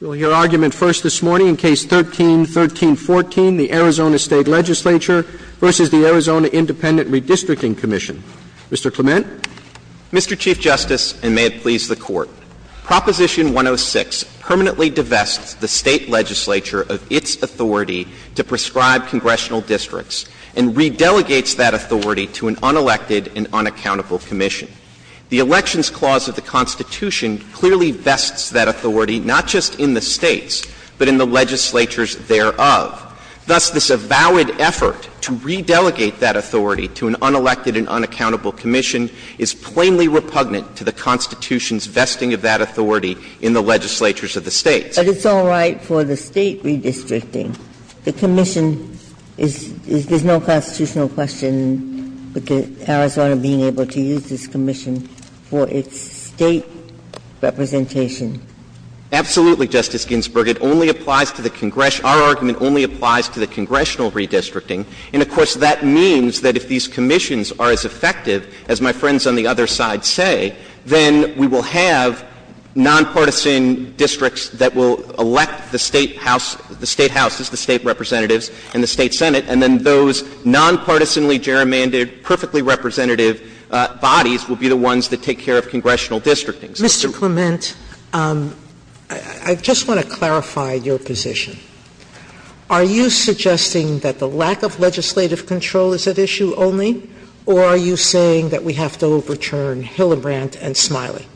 We will hear argument first this morning in Case 13-1314, the Arizona State Legislature v. the Arizona Independent Redistricting Comm'n. Mr. Clement. Mr. Chief Justice, and may it please the Court, Proposition 106 permanently divests the State Legislature of its authority to prescribe congressional districts and re-delegates that authority to an unelected and unaccountable commission. The Elections Clause of the Constitution clearly vests that authority not just in the States, but in the legislatures thereof. Thus, this avowed effort to re-delegate that authority to an unelected and unaccountable commission is plainly repugnant to the Constitution's vesting of that authority in the legislatures of the States. But it's all right for the State redistricting. The commission is no constitutional question, but the Arizona being able to use this commission for its State representation. Absolutely, Justice Ginsburg. It only applies to the congressional – our argument only applies to the congressional redistricting. And, of course, that means that if these commissions are as effective as my friends on the other side say, then we will have nonpartisan districts that will elect the State house – the State houses, the State representatives and the State Senate, and then those nonpartisanally gerrymandered, perfectly representative bodies will be the ones that take care of congressional districting. Mr. Clement, I just want to clarify your position. Are you suggesting that the lack of legislative control is at issue only, or are you saying that we have to overturn Hildebrandt and Smiley?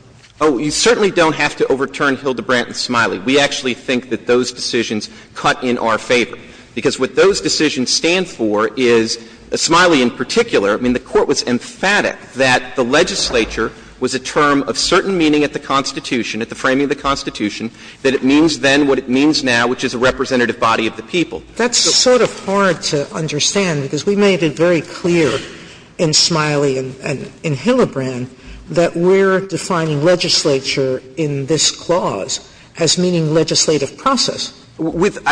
Oh, you certainly don't have to overturn Hildebrandt and Smiley. We actually think that those decisions cut in our favor. Because what those decisions stand for is – Smiley in particular. I mean, the Court was emphatic that the legislature was a term of certain meaning at the Constitution, at the framing of the Constitution, that it means then what it means now, which is a representative body of the people. That's sort of hard to understand, because we made it very clear in Smiley and in Hildebrandt that we're defining legislature in this clause as meaning legislative process. With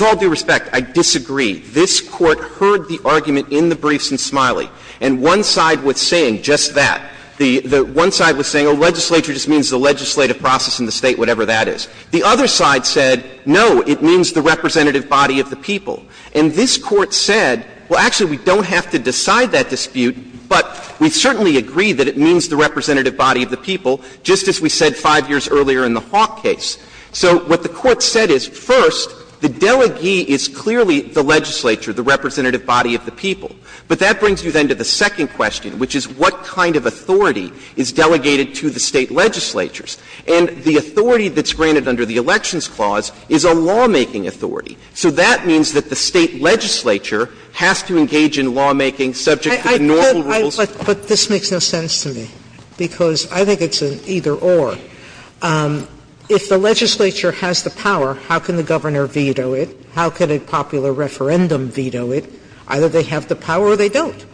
all due respect, I disagree. This Court heard the argument in the briefs in Smiley. And one side was saying just that. The one side was saying, oh, legislature just means the legislative process in the State, whatever that is. The other side said, no, it means the representative body of the people. And this Court said, well, actually, we don't have to decide that dispute, but we certainly agree that it means the representative body of the people, just as we said 5 years earlier in the Hawk case. So what the Court said is, first, the delegee is clearly the legislature, the representative body of the people. But that brings you then to the second question, which is what kind of authority is delegated to the State legislatures? And the authority that's granted under the Elections Clause is a lawmaking authority. So that means that the State legislature has to engage in lawmaking subject to the normal rules. Sotomayor But this makes no sense to me, because I think it's an either-or. If the legislature has the power, how can the governor veto it? How can a popular referendum veto it? Either they have the power or they don't.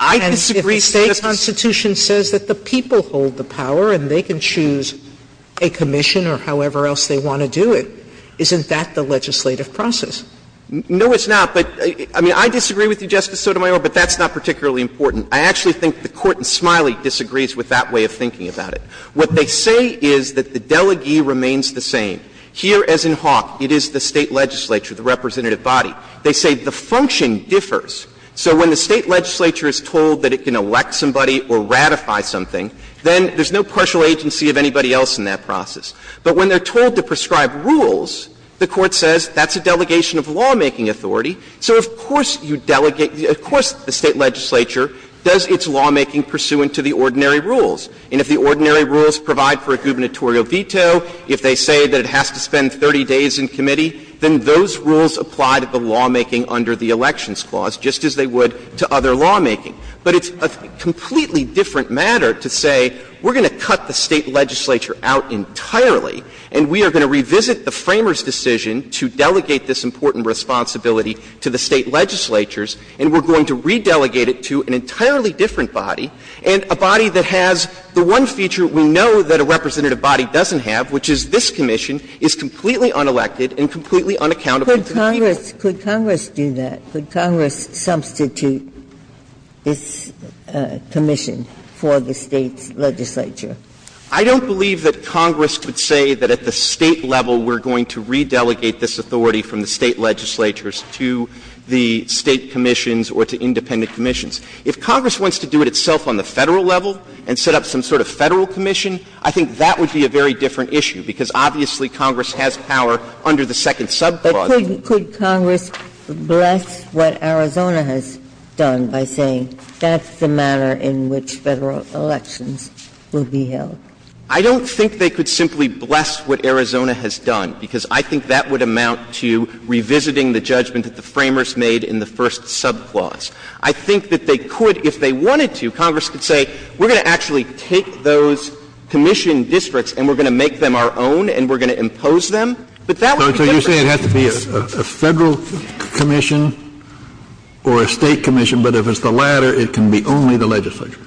And if the State constitution says that the people hold the power and they can choose a commission or however else they want to do it, isn't that the legislative process? No, it's not. But, I mean, I disagree with you, Justice Sotomayor, but that's not particularly important. I actually think the Court in Smiley disagrees with that way of thinking about it. What they say is that the delegee remains the same. Here, as in Hawk, it is the State legislature, the representative body. They say the function differs. So when the State legislature is told that it can elect somebody or ratify something, then there's no partial agency of anybody else in that process. But when they're told to prescribe rules, the Court says that's a delegation of lawmaking authority. So of course you delegate the – of course the State legislature does its lawmaking pursuant to the ordinary rules. And if the ordinary rules provide for a gubernatorial veto, if they say that it has to spend 30 days in committee, then those rules apply to the lawmaking under the Elections Clause, just as they would to other lawmaking. But it's a completely different matter to say we're going to cut the State legislature out entirely and we are going to revisit the Framers' decision to delegate this important responsibility to the State legislatures, and we're going to re-delegate it to an entirely different body. And a body that has the one feature we know that a representative body doesn't have, which is this commission, is completely unelected and completely unaccountable to the people. Ginsburg. Could Congress do that? Could Congress substitute this commission for the State's legislature? I don't believe that Congress could say that at the State level we're going to re-delegate this authority from the State legislatures to the State commissions or to independent commissions. If Congress wants to do it itself on the Federal level and set up some sort of Federal commission, I think that would be a very different issue, because obviously Congress has power under the second subclause. But could Congress bless what Arizona has done by saying that's the manner in which Federal elections will be held? I don't think they could simply bless what Arizona has done, because I think that would amount to revisiting the judgment that the Framers made in the first subclause. I think that they could, if they wanted to, Congress could say we're going to actually take those commission districts and we're going to make them our own and we're going to impose them. But that would be different. So you're saying it has to be a Federal commission or a State commission, but if it's the latter, it can be only the legislature?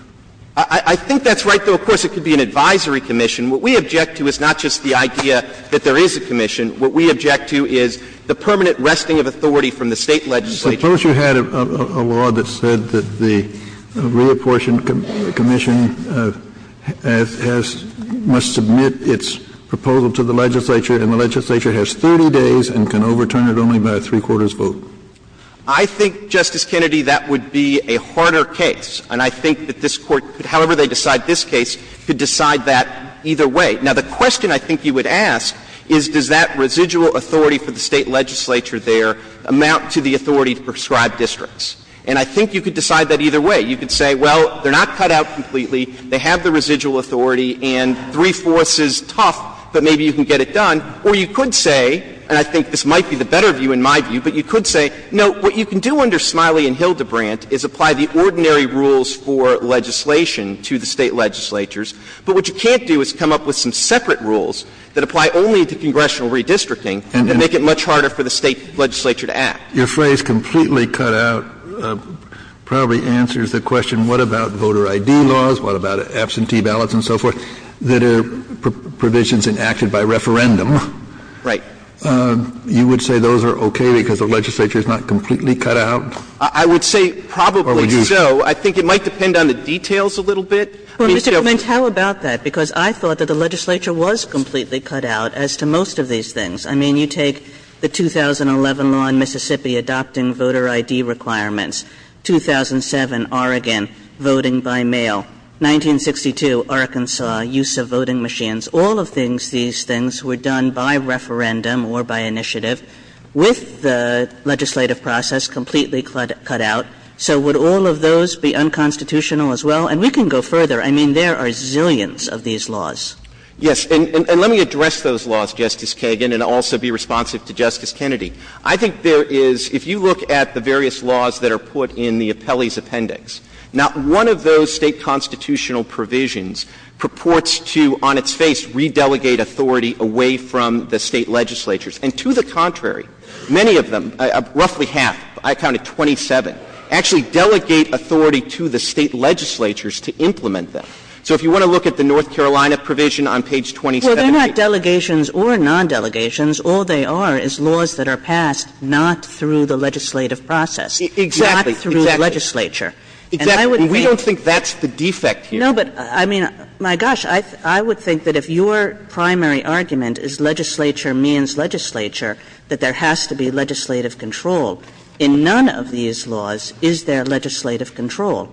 I think that's right, though, of course, it could be an advisory commission. What we object to is not just the idea that there is a commission. What we object to is the permanent resting of authority from the State legislature. Suppose you had a law that said that the reapportioned commission has — must submit its proposal to the legislature, and the legislature has 30 days and can overturn it only by a three-quarters vote. I think, Justice Kennedy, that would be a harder case. And I think that this Court, however they decide this case, could decide that either way. Now, the question I think you would ask is, does that residual authority for the State legislature there amount to the authority to prescribe districts? And I think you could decide that either way. You could say, well, they're not cut out completely, they have the residual authority and three-fourths is tough, but maybe you can get it done. Or you could say, and I think this might be the better view in my view, but you could say, no, what you can do under Smiley and Hildebrandt is apply the ordinary rules for legislation to the State legislatures, but what you can't do is come up with some separate rules that apply only to congressional redistricting and make it much harder for the State legislature to act. Kennedy, Your phrase, completely cut out, probably answers the question, what about voter ID laws, what about absentee ballots and so forth, that are provisions enacted by referendum? Right. You would say those are okay because the legislature is not completely cut out? I would say probably so. I think it might depend on the details a little bit. I mean, if you have to go through the details. Kagan, Well, Mr. Clement, how about that? Because I thought that the legislature was completely cut out as to most of these things. I mean, you take the 2011 law in Mississippi adopting voter ID requirements, 2007, Oregon, voting by mail, 1962, Arkansas, use of voting machines, all of these things were done by referendum or by initiative, with the legislative process completely cut out, so would all of those be unconstitutional as well? And we can go further. I mean, there are zillions of these laws. Yes. And let me address those laws, Justice Kagan, and also be responsive to Justice Kennedy. I think there is, if you look at the various laws that are put in the appellee's appendix, not one of those State constitutional provisions purports to, on its face, re-delegate authority away from the State legislatures. And to the contrary, many of them, roughly half, I counted 27, actually delegate authority to the State legislatures to implement them. So if you want to look at the North Carolina provision on page 278. Well, they're not delegations or non-delegations. All they are is laws that are passed not through the legislative process. Exactly. Not through legislature. Exactly. And we don't think that's the defect here. No, but I mean, my gosh, I would think that if your primary argument is legislature means legislature, that there has to be legislative control. In none of these laws is there legislative control.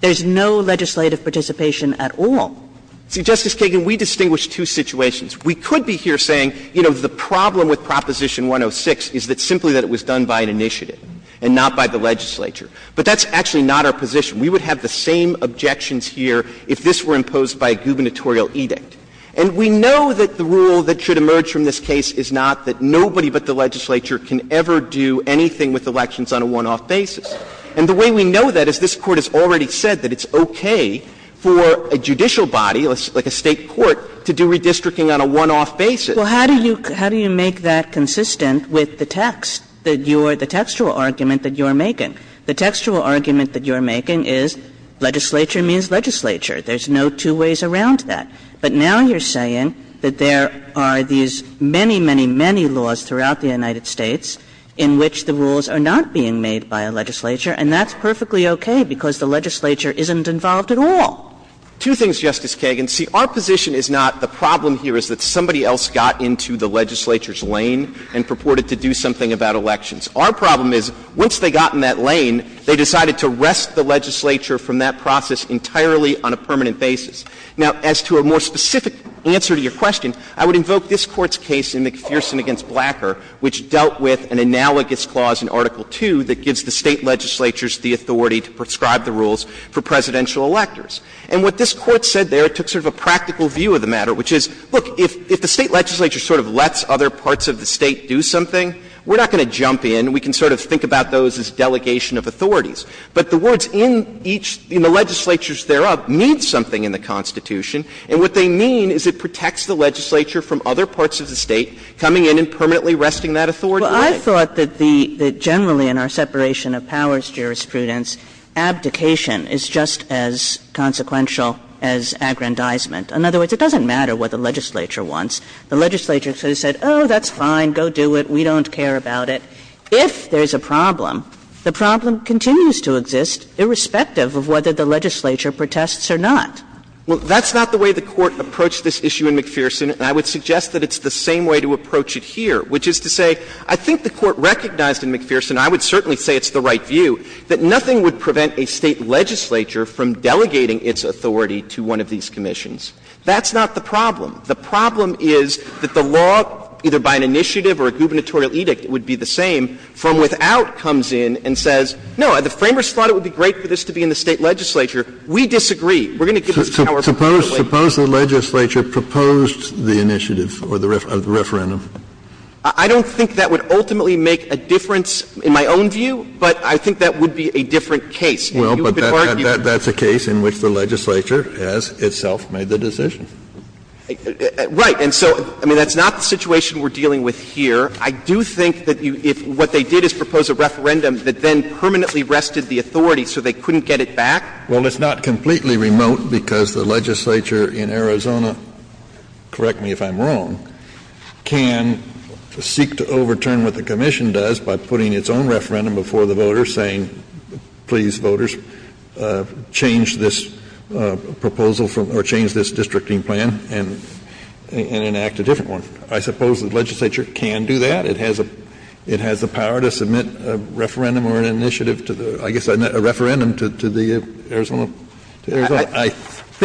There is no legislative participation at all. Justice Kagan, we distinguish two situations. We could be here saying, you know, the problem with Proposition 106 is that simply that it was done by an initiative and not by the legislature. But that's actually not our position. We would have the same objections here if this were imposed by a gubernatorial edict. And we know that the rule that should emerge from this case is not that nobody but the legislature can ever do anything with elections on a one-off basis. And the way we know that is this Court has already said that it's okay for a judicial body, like a State court, to do redistricting on a one-off basis. Well, how do you make that consistent with the text, the textual argument that you are making? The textual argument that you are making is legislature means legislature. There's no two ways around that. But now you're saying that there are these many, many, many laws throughout the United States in which the rules are not being made by a legislature, and that's perfectly okay because the legislature isn't involved at all. Two things, Justice Kagan. See, our position is not the problem here is that somebody else got into the legislature's lane and purported to do something about elections. Our problem is once they got in that lane, they decided to wrest the legislature from that process entirely on a permanent basis. Now, as to a more specific answer to your question, I would invoke this Court's case in McPherson v. Blacker, which dealt with an analogous clause in Article 2 that gives the State legislatures the authority to prescribe the rules for presidential electors. And what this Court said there, it took sort of a practical view of the matter, which is, look, if the State legislature sort of lets other parts of the State do something, we're not going to jump in. We can sort of think about those as delegation of authorities. But the words in each of the legislatures thereof mean something in the Constitution, and what they mean is it protects the legislature from other parts of the State coming in and permanently wresting that authority away. Kagan. Well, I thought that the — that generally in our separation of powers jurisprudence, abdication is just as consequential as aggrandizement. In other words, it doesn't matter what the legislature wants. The legislature sort of said, oh, that's fine, go do it, we don't care about it. If there's a problem, the problem continues to exist irrespective of whether the legislature protests or not. Well, that's not the way the Court approached this issue in McPherson, and I would suggest that it's the same way to approach it here, which is to say, I think the Court recognized in McPherson, and I would certainly say it's the right view, that nothing would prevent a State legislature from delegating its authority to one of these commissions. That's not the problem. The problem is that the law, either by an initiative or a gubernatorial edict, it would be the same, from without comes in and says, no, the framers thought it would be great for this to be in the State legislature. We disagree. We're going to give this power particularly to the State legislature. Kennedy, suppose the legislature proposed the initiative or the referendum? I don't think that would ultimately make a difference in my own view, but I think that would be a different case. Well, but that's a case in which the legislature has itself made the decision. Right. And so, I mean, that's not the situation we're dealing with here. I do think that if what they did is propose a referendum that then permanently wrested the authority so they couldn't get it back. Well, it's not completely remote because the legislature in Arizona, correct me if I'm wrong, can seek to overturn what the commission does by putting its own referendum before the voters saying, please, voters, change this proposal or change this districting plan and enact a different one. I suppose the legislature can do that. It has the power to submit a referendum or an initiative to the — I guess a referendum to the Arizona — to Arizona. I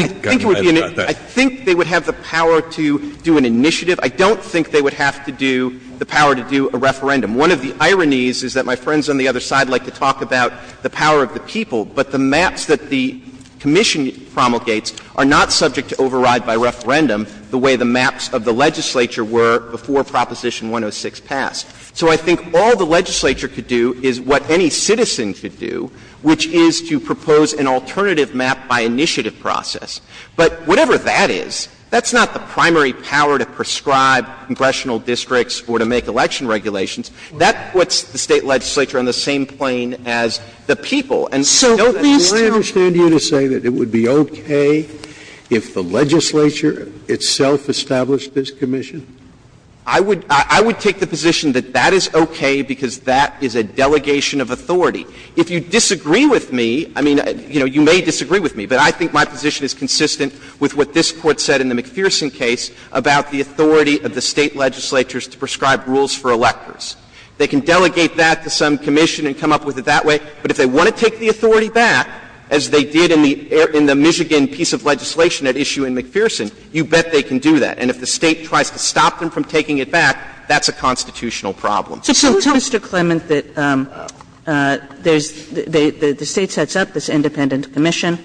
think they would have the power to do an initiative. I don't think they would have to do — the power to do a referendum. One of the ironies is that my friends on the other side like to talk about the power of the people, but the maps that the commission promulgates are not subject to override by referendum the way the maps of the legislature were before Proposition 106 passed. So I think all the legislature could do is what any citizen could do, which is to propose an alternative map by initiative process. But whatever that is, that's not the primary power to prescribe congressional districts or to make election regulations. That puts the State legislature on the same plane as the people. And don't these towns — So I understand you to say that it would be okay if the legislature itself established this commission? I would — I would take the position that that is okay because that is a delegation of authority. If you disagree with me, I mean, you know, you may disagree with me, but I think my position is consistent with what this Court said in the McPherson case about the authority of the State legislatures to prescribe rules for electors. They can delegate that to some commission and come up with it that way, but if they want to take the authority back, as they did in the — in the Michigan piece of legislation at issue in McPherson, you bet they can do that. And if the State tries to stop them from taking it back, that's a constitutional problem. So tell us, Mr. Clement, that there's — the State sets up this independent commission,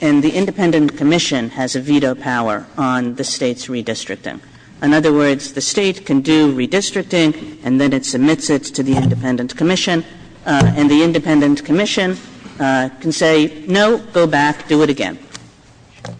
and the independent commission has a veto power on the State's redistricting. In other words, the State can do redistricting and then it submits it to the independent commission, and the independent commission can say, no, go back, do it again.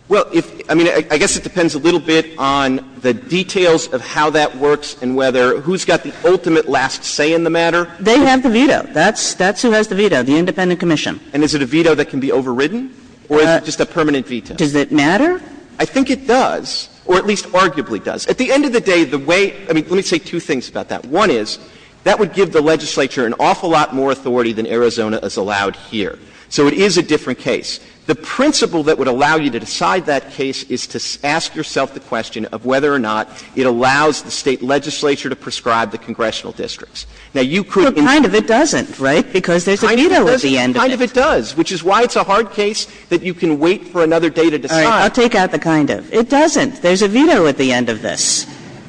Well, if — I mean, I guess it depends a little bit on the details of how that works and whether — who's got the ultimate last say in the matter. They have the veto. That's — that's who has the veto, the independent commission. And is it a veto that can be overridden, or is it just a permanent veto? Does it matter? I think it does, or at least arguably does. At the end of the day, the way — I mean, let me say two things about that. One is, that would give the legislature an awful lot more authority than Arizona has allowed here. So it is a different case. The principle that would allow you to decide that case is to ask yourself the question of whether or not it allows the State legislature to prescribe the congressional districts. Now, you could — But kind of it doesn't, right, because there's a veto at the end of it. Kind of it does, which is why it's a hard case that you can wait for another day to decide. All right. I'll take out the kind of. It doesn't. There's a veto at the end of this.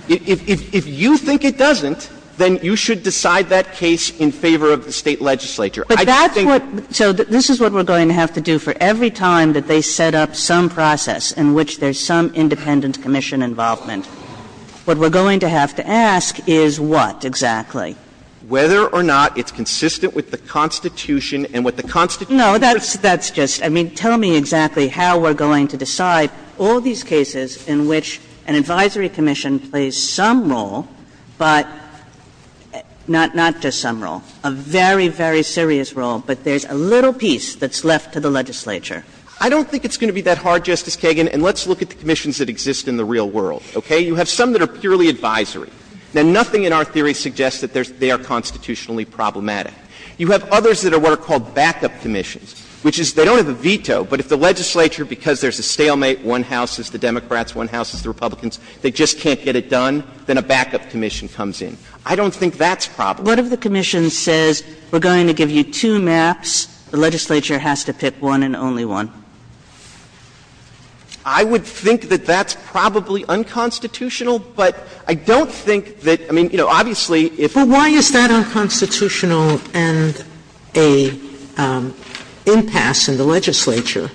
If you think it doesn't, then you should decide that case in favor of the State legislature. I think that's what — But that's what — so this is what we're going to have to do for every time that they set up some process in which there's some independent commission involvement. What we're going to have to ask is what, exactly? Whether or not it's consistent with the Constitution and what the Constitution says. No, that's just — I mean, tell me exactly how we're going to decide all these cases in which an advisory commission plays some role, but not just some role, a very, very serious role, but there's a little piece that's left to the legislature. I don't think it's going to be that hard, Justice Kagan. And let's look at the commissions that exist in the real world, okay? You have some that are purely advisory. Now, nothing in our theory suggests that they are constitutionally problematic. You have others that are what are called backup commissions, which is they don't have a veto, but if the legislature, because there's a stalemate, one house is the Democrats, one house is the Republicans, they just can't get it done, then a backup commission comes in. I don't think that's problematic. But what if the commission says, we're going to give you two maps, the legislature has to pick one and only one? I would think that that's probably unconstitutional, but I don't think that — I mean, you know, obviously, if — But why is that unconstitutional and an impasse in the legislature,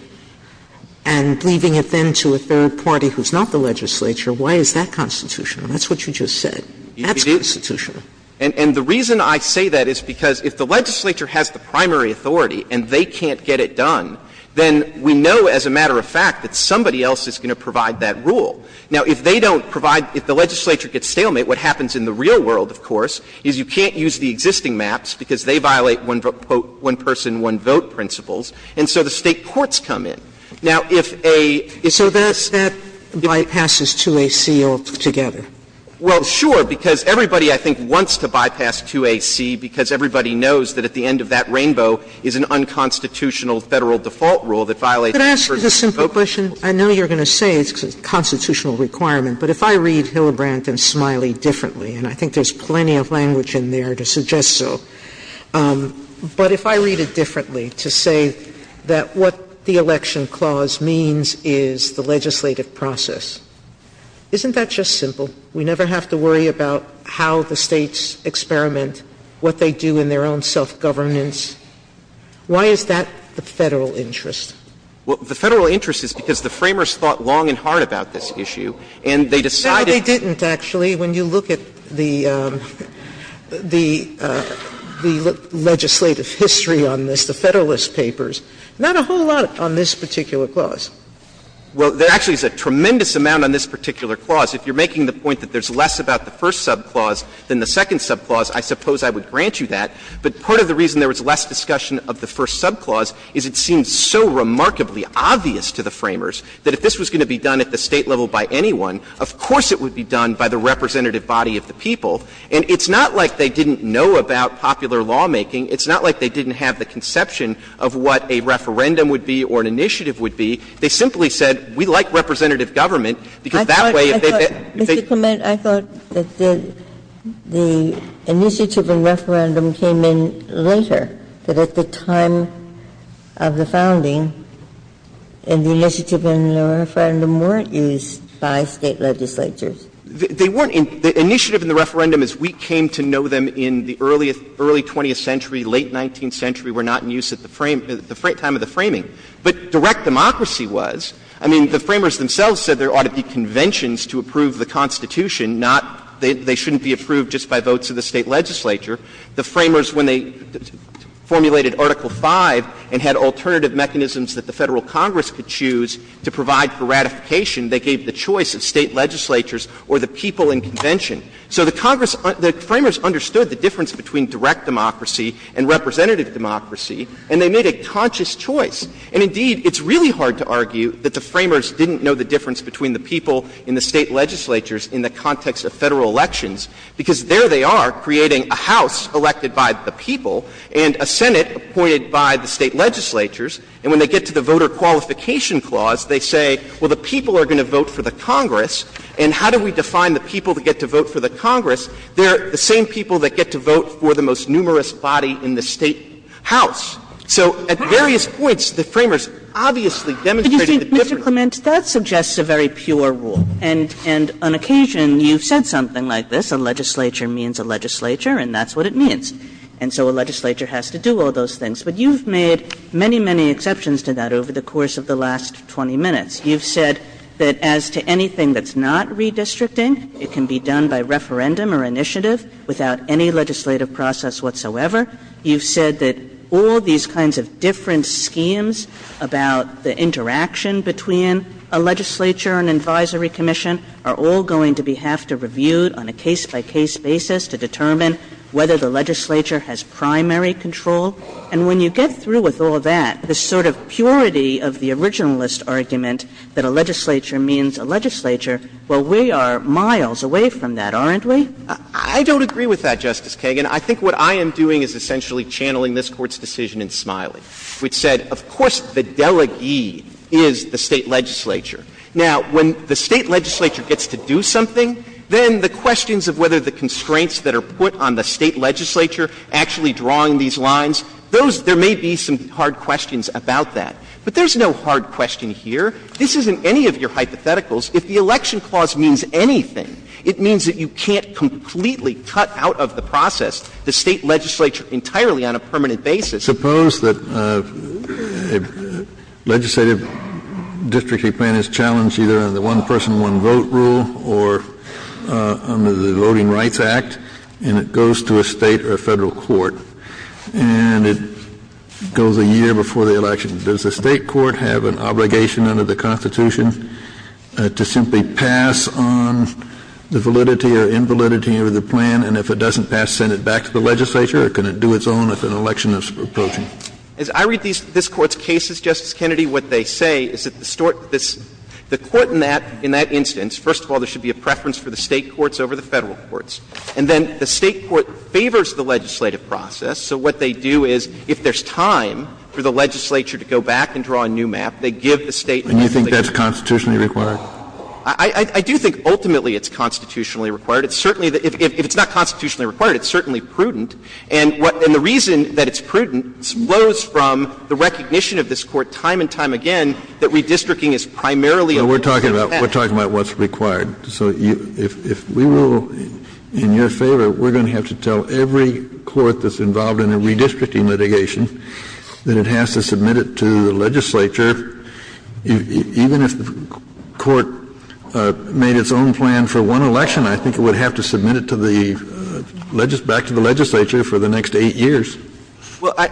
and leaving it then to a third party who's not the legislature, why is that constitutional? That's what you just said. That's constitutional. And the reason I say that is because if the legislature has the primary authority and they can't get it done, then we know as a matter of fact that somebody else is going to provide that rule. Now, if they don't provide — if the legislature gets stalemate, what happens in the real world, of course, is you can't use the existing maps because they violate one-person, one-vote principles, and so the State courts come in. Now, if a — So that bypasses to a seal together. Well, sure, because everybody, I think, wants to bypass 2AC because everybody knows that at the end of that rainbow is an unconstitutional Federal default rule that violates one-person, one-vote principles. Could I ask a simple question? I know you're going to say it's a constitutional requirement, but if I read Hillebrand and Smiley differently, and I think there's plenty of language in there to suggest so, but if I read it differently to say that what the election clause means is the legislative process, isn't that just simple? We never have to worry about how the States experiment, what they do in their own self-governance. Why is that the Federal interest? Well, the Federal interest is because the Framers thought long and hard about this issue, and they decided to do it. No, they didn't, actually. When you look at the legislative history on this, the Federalist papers, not a whole lot on this particular clause. Well, there actually is a tremendous amount on this particular clause. If you're making the point that there's less about the first subclause than the second subclause, I suppose I would grant you that. But part of the reason there was less discussion of the first subclause is it seemed so remarkably obvious to the Framers that if this was going to be done at the State level by anyone, of course it would be done by the representative body of the people. And it's not like they didn't know about popular lawmaking. It's not like they didn't have the conception of what a referendum would be or an initiative would be. They simply said, we like representative government, because that way if they've been at the State level. I thought, Mr. Clement, I thought that the initiative in referendum came in later, that at the time of the founding, and the initiative in the referendum weren't used by State legislatures. They weren't. The initiative in the referendum is we came to know them in the early 20th century, late 19th century, were not in use at the time of the framing. But direct democracy was. I mean, the Framers themselves said there ought to be conventions to approve the Constitution, not they shouldn't be approved just by votes of the State legislature. The Framers, when they formulated Article V and had alternative mechanisms that the Federal Congress could choose to provide for ratification, they gave the choice of State legislatures or the people in convention. So the Congress — the Framers understood the difference between direct democracy and representative democracy, and they made a conscious choice. And indeed, it's really hard to argue that the Framers didn't know the difference between the people and the State legislatures in the context of Federal elections, because there they are creating a House elected by the people and a Senate appointed by the State legislatures, and when they get to the voter qualification clause, they say, well, the people are going to vote for the Congress, and how do we define the people that get to vote for the Congress? They're the same people that get to vote for the most numerous body in the State House. So at various points, the Framers obviously demonstrated the difference. Kagan. Kagan. But you see, Mr. Clement, that suggests a very pure rule, and on occasion, you've said something like this, a legislature means a legislature, and that's what it means. And so a legislature has to do all those things. But you've made many, many exceptions to that over the course of the last 20 minutes. You've said that as to anything that's not redistricting, it can be done by referendum or initiative without any legislative process whatsoever. You've said that all these kinds of different schemes about the interaction between a legislature and an advisory commission are all going to have to be reviewed on a case-by-case basis to determine whether the legislature has primary control. And when you get through with all that, the sort of purity of the originalist argument that a legislature means a legislature, well, we are miles away from that, aren't we? Clement. I don't agree with that, Justice Kagan. I think what I am doing is essentially channeling this Court's decision in Smiley, which said, of course, the delegee is the State legislature. Now, when the State legislature gets to do something, then the questions of whether the constraints that are put on the State legislature actually drawing these lines, those — there may be some hard questions about that. But there's no hard question here. This isn't any of your hypotheticals. If the election clause means anything, it means that you can't completely cut out of the process the State legislature entirely on a permanent basis. Suppose that a legislative districtly plan is challenged either under the one-person, one-vote rule or under the Voting Rights Act, and it goes to a State or a Federal court, and it goes a year before the election. Does the State court have an obligation under the Constitution to simply pass on the validity or invalidity of the plan, and if it doesn't pass, send it back to the legislature, or can it do its own if an election is approaching? As I read these — this Court's cases, Justice Kennedy, what they say is that the Court in that instance, first of all, there should be a preference for the State courts over the Federal courts. And then the State court favors the legislative process, so what they do is, if there's enough time for the legislature to go back and draw a new map, they give the State an obligation. Kennedy, and you think that's constitutionally required? I do think ultimately it's constitutionally required. It's certainly — if it's not constitutionally required, it's certainly prudent. And what — and the reason that it's prudent flows from the recognition of this Court time and time again that redistricting is primarily a process of passing. We're talking about what's required. So if we will, in your favor, we're going to have to tell every court that's involved in a redistricting litigation that it has to submit it to the legislature. Even if the Court made its own plan for one election, I think it would have to submit it to the legislature — back to the legislature for the next 8 years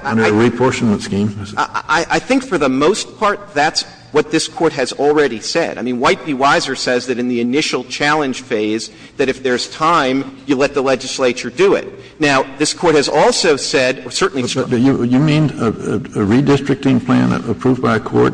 under a reportionment scheme. I think for the most part that's what this Court has already said. I mean, White v. Weiser says that in the initial challenge phase, that if there's time, you let the legislature do it. Now, this Court has also said, or certainly has said that you need a redistricting plan approved by a court,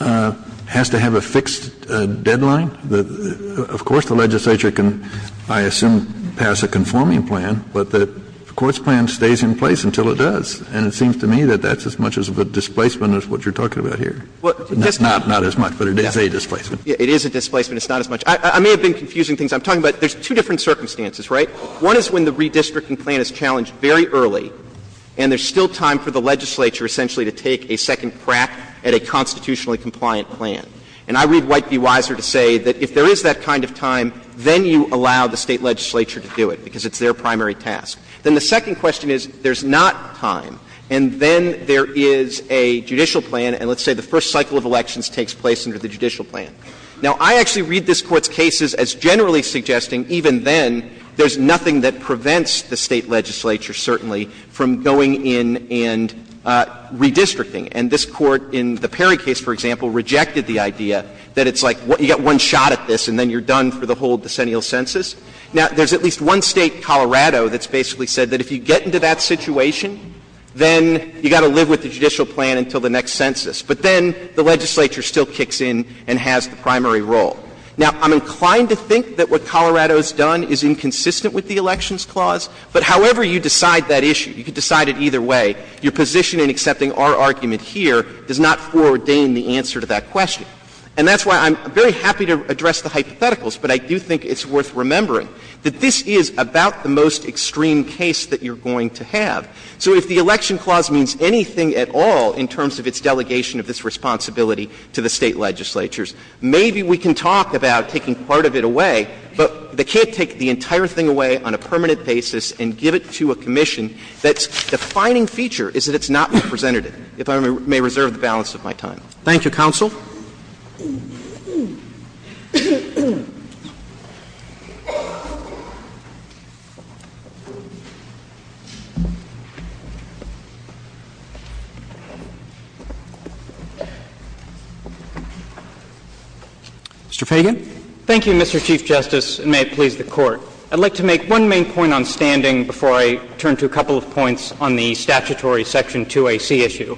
has to have a fixed deadline. Of course, the legislature can, I assume, pass a conforming plan, but the court's plan stays in place until it does. And it seems to me that that's as much of a displacement as what you're talking about here. Not as much, but it is a displacement. It is a displacement. It's not as much. I may have been confusing things. I'm talking about there's two different circumstances, right? One is when the redistricting plan is challenged very early and there's still time for the legislature essentially to take a second crack at a constitutionally compliant plan. And I read White v. Weiser to say that if there is that kind of time, then you allow the State legislature to do it, because it's their primary task. Then the second question is, there's not time, and then there is a judicial plan, and let's say the first cycle of elections takes place under the judicial plan. Now, I actually read this Court's cases as generally suggesting even then there's nothing that prevents the State legislature, certainly, from going in and redistricting. And this Court in the Perry case, for example, rejected the idea that it's like you get one shot at this and then you're done for the whole decennial census. Now, there's at least one State, Colorado, that's basically said that if you get into that situation, then you've got to live with the judicial plan until the next census. But then the legislature still kicks in and has the primary role. Now, I'm inclined to think that what Colorado has done is inconsistent with the Elections Clause, but however you decide that issue, you can decide it either way, your position in accepting our argument here does not foreordain the answer to that question. And that's why I'm very happy to address the hypotheticals, but I do think it's worth remembering that this is about the most extreme case that you're going to have. So if the Election Clause means anything at all in terms of its delegation of this State legislatures, maybe we can talk about taking part of it away, but they can't take the entire thing away on a permanent basis and give it to a commission that's defining feature is that it's not representative, if I may reserve the balance of my time. Roberts. Thank you, counsel. Mr. Feigin. Thank you, Mr. Chief Justice, and may it please the Court. I'd like to make one main point on standing before I turn to a couple of points on the statutory Section 2AC issue.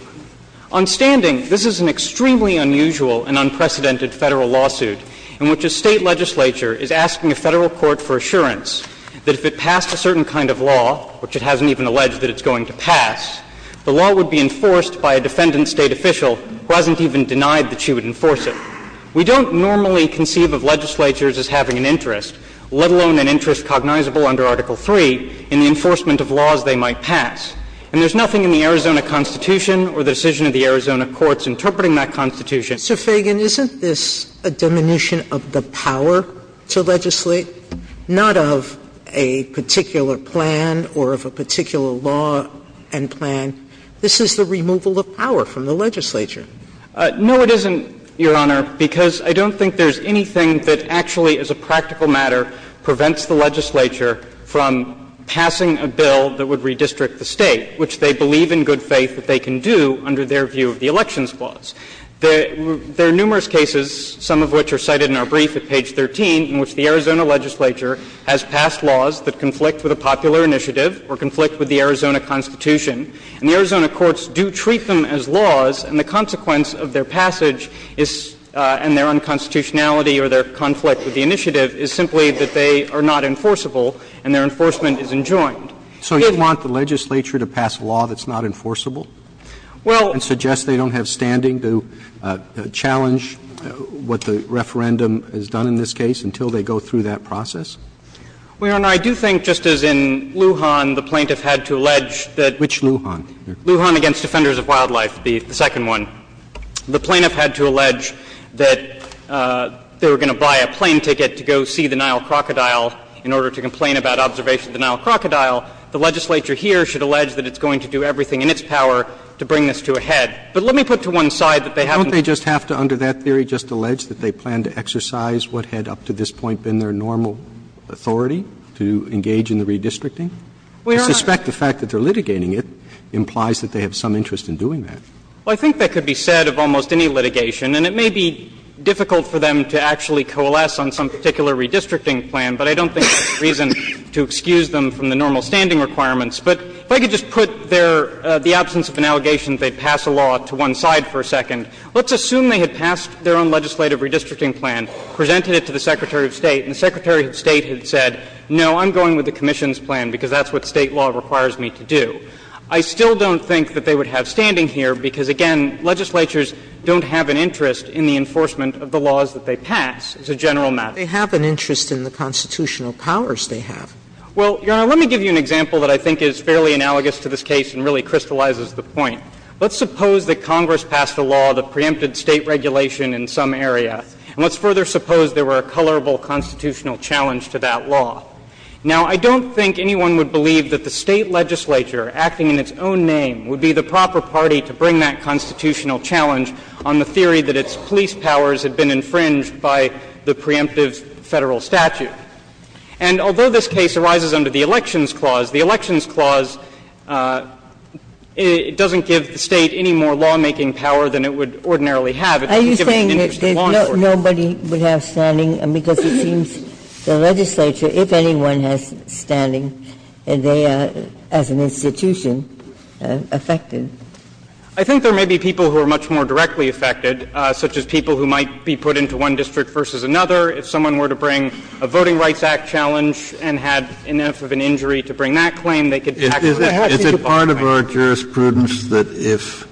On standing, this is an extremely unusual and unprecedented Federal lawsuit in which a State legislature is asking a Federal court for assurance that if it passed a certain kind of law, which it hasn't even alleged that it's going to pass, the law would be enforced by a defendant State official who hasn't even denied that she would enforce it. We don't normally conceive of legislatures as having an interest, let alone an interest cognizable under Article III in the enforcement of laws they might pass. And there's nothing in the Arizona Constitution or the decision of the Arizona courts interpreting that Constitution. Sotomayor, isn't this a diminution of the power to legislate, not of a particular plan or of a particular law and plan? This is the removal of power from the legislature. No, it isn't, Your Honor, because I don't think there's anything that actually as a practical matter prevents the legislature from passing a bill that would redistrict the State, which they believe in good faith that they can do under their view of the elections clause. There are numerous cases, some of which are cited in our brief at page 13, in which the Arizona legislature has passed laws that conflict with a popular initiative or conflict with the Arizona Constitution. And the Arizona courts do treat them as laws, and the consequence of their passage is — and their unconstitutionality or their conflict with the initiative is simply that they are not enforceable and their enforcement is enjoined. So you want the legislature to pass a law that's not enforceable? Well — And suggest they don't have standing to challenge what the referendum has done in this case until they go through that process? Well, Your Honor, I do think, just as in Lujan, the plaintiff had to allege that — Which Lujan? Lujan v. Defenders of Wildlife, the second one. The plaintiff had to allege that they were going to buy a plane ticket to go see the The legislature here should allege that it's going to do everything in its power to bring this to a head. But let me put to one side that they haven't — Don't they just have to, under that theory, just allege that they plan to exercise what had up to this point been their normal authority to engage in the redistricting? Well, Your Honor — To suspect the fact that they're litigating it implies that they have some interest in doing that. Well, I think that could be said of almost any litigation, and it may be difficult for them to actually coalesce on some particular redistricting plan, but I don't think there's a reason to excuse them from the normal standing requirements. But if I could just put their — the absence of an allegation that they'd pass a law to one side for a second, let's assume they had passed their own legislative redistricting plan, presented it to the Secretary of State, and the Secretary of State had said, no, I'm going with the commission's plan because that's what State law requires me to do. I still don't think that they would have standing here because, again, legislatures don't have an interest in the enforcement of the laws that they pass. It's a general matter. They have an interest in the constitutional powers they have. Well, Your Honor, let me give you an example that I think is fairly analogous to this case and really crystallizes the point. Let's suppose that Congress passed a law that preempted State regulation in some area, and let's further suppose there were a colorable constitutional challenge to that law. Now, I don't think anyone would believe that the State legislature, acting in its own name, would be the proper party to bring that constitutional challenge on the theory that its police powers had been infringed by the preemptive Federal statute. And although this case arises under the Elections Clause, the Elections Clause doesn't give the State any more lawmaking power than it would ordinarily have. It doesn't give it an interest in law enforcement. Ginsburg. Are you saying that nobody would have standing, because it seems the legislature, if anyone has standing, they are, as an institution, affected? I think there may be people who are much more directly affected, such as people who might be put into one district versus another. If someone were to bring a Voting Rights Act challenge and had enough of an injury to bring that claim, they could actually be affected. Is it part of our jurisprudence that if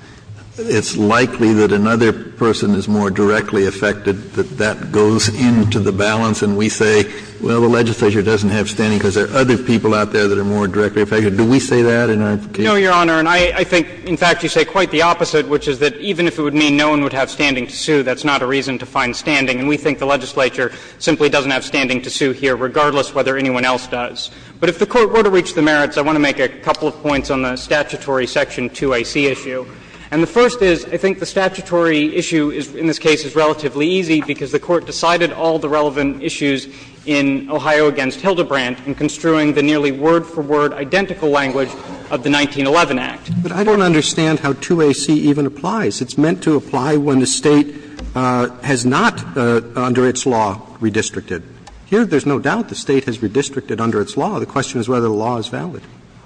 it's likely that another person is more directly affected, that that goes into the balance and we say, well, the legislature doesn't have standing because there are other people out there that are more directly affected? Do we say that in our case? No, Your Honor. And I think, in fact, you say quite the opposite, which is that even if it would mean no one would have standing to sue, that's not a reason to find standing. And we think the legislature simply doesn't have standing to sue here, regardless of whether anyone else does. But if the Court were to reach the merits, I want to make a couple of points on the statutory section 2AC issue. And the first is, I think the statutory issue in this case is relatively easy, because the Court decided all the relevant issues in Ohio v. Hildebrandt in construing the nearly word-for-word identical language of the 1911 Act. But I don't understand how 2AC even applies. It's meant to apply when the State has not, under its law, redistricted. Here, there's no doubt the State has redistricted under its law. The question is whether the law is valid.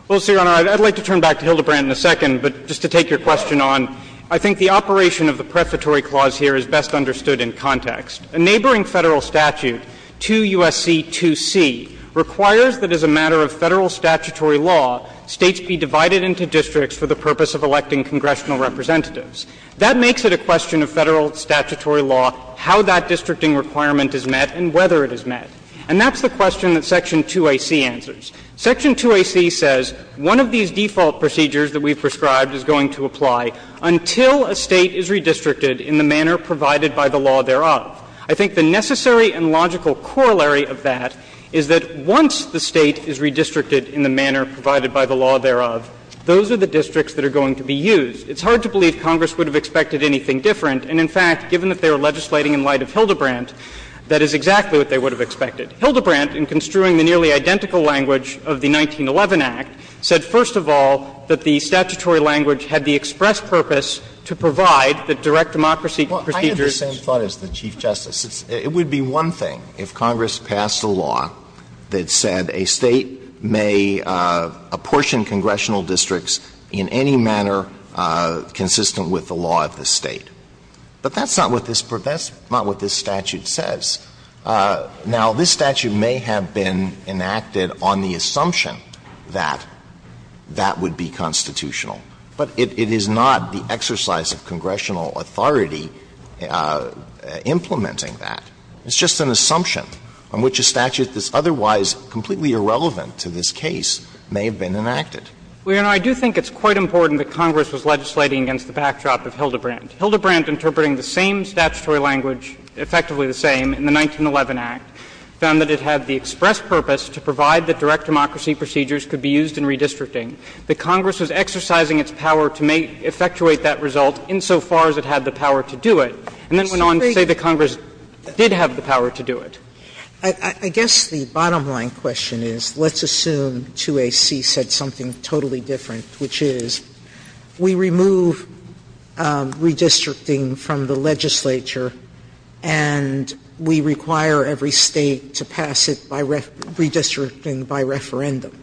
Well, Mr. Your Honor, I'd like to turn back to Hildebrandt in a second, but just to take your question on, I think the operation of the prefatory clause here is best understood in context. A neighboring Federal statute, 2 U.S.C. 2C, requires that as a matter of Federal statutory law, States be divided into districts for the purpose of electing congressional representatives. That makes it a question of Federal statutory law how that districting requirement is met and whether it is met. And that's the question that section 2AC answers. Section 2AC says one of these default procedures that we've prescribed is going to apply until a State is redistricted in the manner provided by the law thereof. I think the necessary and logical corollary of that is that once the State is redistricted in the manner provided by the law thereof, those are the districts that are going to be used. It's hard to believe Congress would have expected anything different. And in fact, given that they were legislating in light of Hildebrandt, that is exactly what they would have expected. Hildebrandt, in construing the nearly identical language of the 1911 Act, said first of all that the statutory language had the express purpose to provide the direct democracy procedures. Alito, I have the same thought as the Chief Justice. It would be one thing if Congress passed a law that said a State may apportion congressional districts in any manner consistent with the law of the State. But that's not what this statute says. Now, this statute may have been enacted on the assumption that that would be constitutional, but it is not the exercise of congressional authority implementing that. It's just an assumption on which a statute that's otherwise completely irrelevant to this case may have been enacted. Well, Your Honor, I do think it's quite important that Congress was legislating against the backdrop of Hildebrandt. Hildebrandt, interpreting the same statutory language, effectively the same, in the 1911 Act, found that it had the express purpose to provide that direct democracy procedures could be used in redistricting. That Congress was exercising its power to effectuate that result insofar as it had the power to do it, and then went on to say that Congress did have the power to do it. Sotomayor, I guess the bottom line question is, let's assume 2A.C. said something totally different, which is, we remove redistricting from the legislature and we require every State to pass it by redistricting by referendum.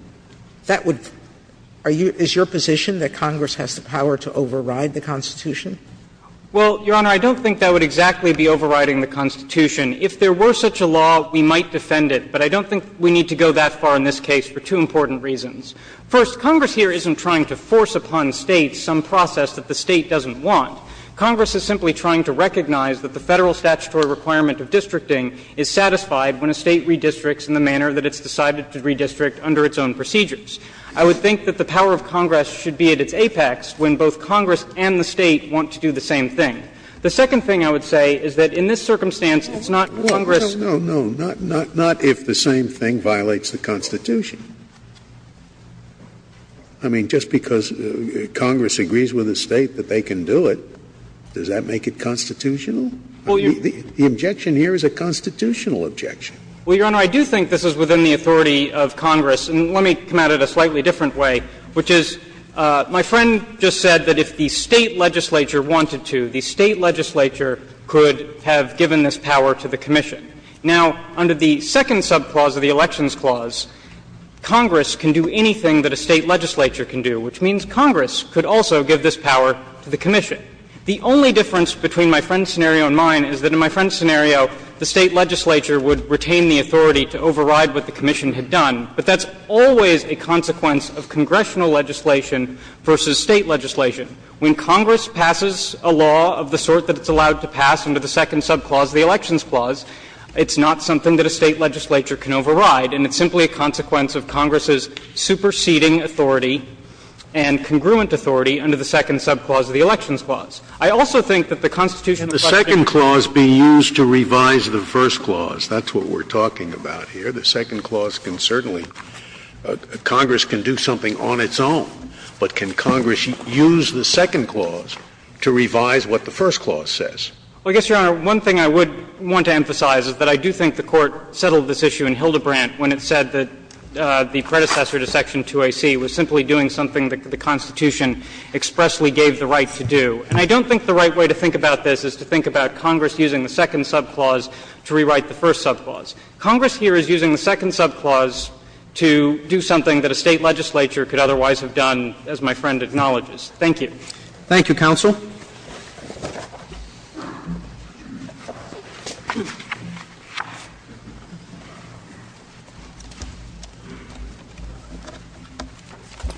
That would – is your position that Congress has the power to override the Constitution? Well, Your Honor, I don't think that would exactly be overriding the Constitution. If there were such a law, we might defend it, but I don't think we need to go that far in this case for two important reasons. First, Congress here isn't trying to force upon States some process that the State doesn't want. Congress is simply trying to recognize that the Federal statutory requirement of districting is satisfied when a State redistricts in the manner that it's decided to redistrict under its own procedures. I would think that the power of Congress should be at its apex when both Congress and the State want to do the same thing. The second thing I would say is that in this circumstance, it's not Congress No, no, no. Not if the same thing violates the Constitution. I mean, just because Congress agrees with a State that they can do it, does that make it constitutional? The objection here is a constitutional objection. Well, Your Honor, I do think this is within the authority of Congress. And let me come at it a slightly different way, which is my friend just said that if the State legislature wanted to, the State legislature could have given this power to the commission. Now, under the second subclause of the Elections Clause, Congress can do anything that a State legislature can do, which means Congress could also give this power to the commission. The only difference between my friend's scenario and mine is that in my friend's scenario, the State legislature would retain the authority to override what the commission had done, but that's always a consequence of congressional legislation versus State legislation. When Congress passes a law of the sort that it's allowed to pass under the second subclause of the Elections Clause, it's not something that a State legislature can override, and it's simply a consequence of Congress's superseding authority and congruent authority under the second subclause of the Elections Clause. I also think that the Constitution of the question is Scalia, and the second clause be used to revise the first clause. That's what we're talking about here. The second clause can certainly — Congress can do something on its own, but can Congress use the second clause to revise what the first clause says? Well, I guess, Your Honor, one thing I would want to emphasize is that I do think the Court settled this issue in Hildebrandt when it said that the predecessor to section 2AC was simply doing something that the Constitution expressly gave the right to do. And I don't think the right way to think about this is to think about Congress using the second subclause to rewrite the first subclause. Congress here is using the second subclause to do something that a State legislature could otherwise have done, as my friend acknowledges. Thank you. Roberts. Thank you, counsel.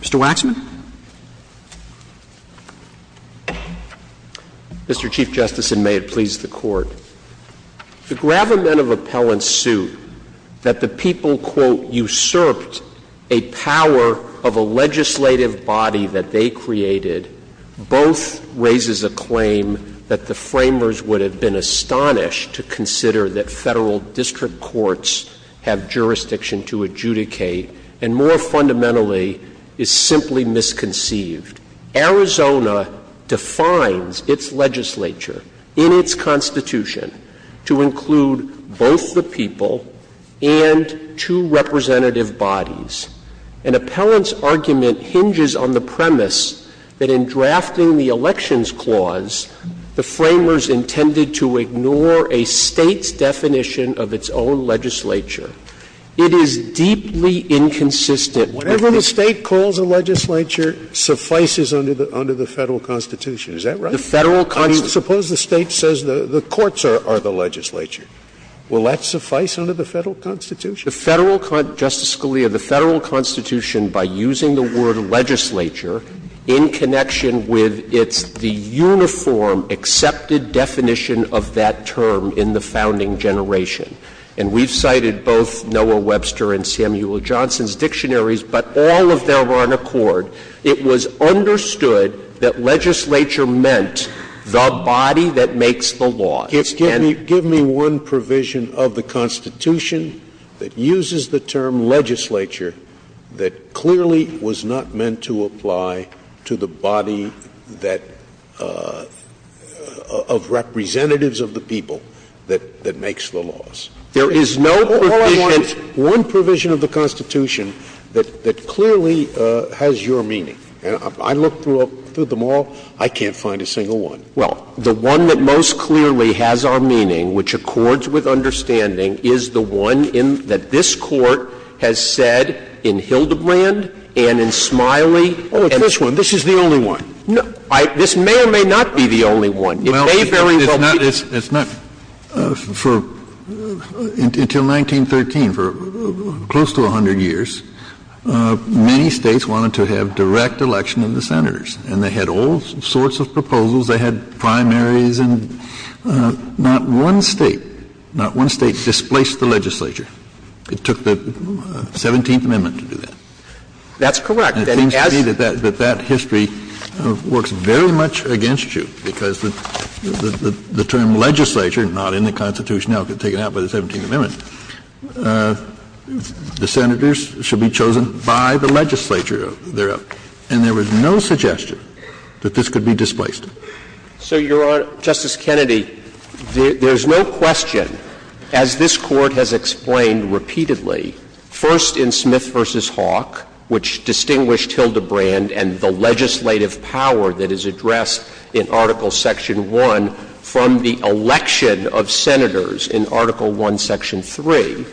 Mr. Waxman. Mr. Chief Justice, and may it please the Court. The gravamen of appellant suit that the people, quote, usurped a power of a legislative body that they created both raises a claim that the framers would have been astonished to consider that Federal district courts have jurisdiction to adjudicate, and more fundamentally, is simply misconceived. Arizona defines its legislature in its Constitution to include both the people and two representative bodies. An appellant's argument hinges on the premise that in drafting the elections clause, the framers intended to ignore a State's definition of its own legislature. It is deeply inconsistent. Scalia, the Federal Constitution, by using the word legislature in connection with its the uniform accepted definition of that term in the founding generation. It was understood that legislature meant the body that makes the laws. Give me one provision of the Constitution that uses the term legislature that clearly was not meant to apply to the body that of representatives of the people that makes the laws. There is no provision. Scalia, all I want is one provision of the Constitution that clearly has your meaning. I looked through them all. I can't find a single one. Well, the one that most clearly has our meaning, which accords with understanding, is the one that this Court has said in Hildebrand and in Smiley and this one. This is the only one. This may or may not be the only one. It may very well be. It's not for until 1913, for close to 100 years, many States wanted to have direct election of the Senators, and they had all sorts of proposals. They had primaries, and not one State, not one State displaced the legislature. It took the 17th Amendment to do that. That's correct. And it seems to me that that history works very much against you, because the term legislature, not in the Constitution, now taken out by the 17th Amendment, the Senators should be chosen by the legislature thereof. And there was no suggestion that this could be displaced. So, Your Honor, Justice Kennedy, there is no question, as this Court has explained repeatedly, first in Smith v. Hawk, which distinguished Hildebrand and the legislative power that is addressed in Article Section 1 from the election of Senators in Article 1, Section 3,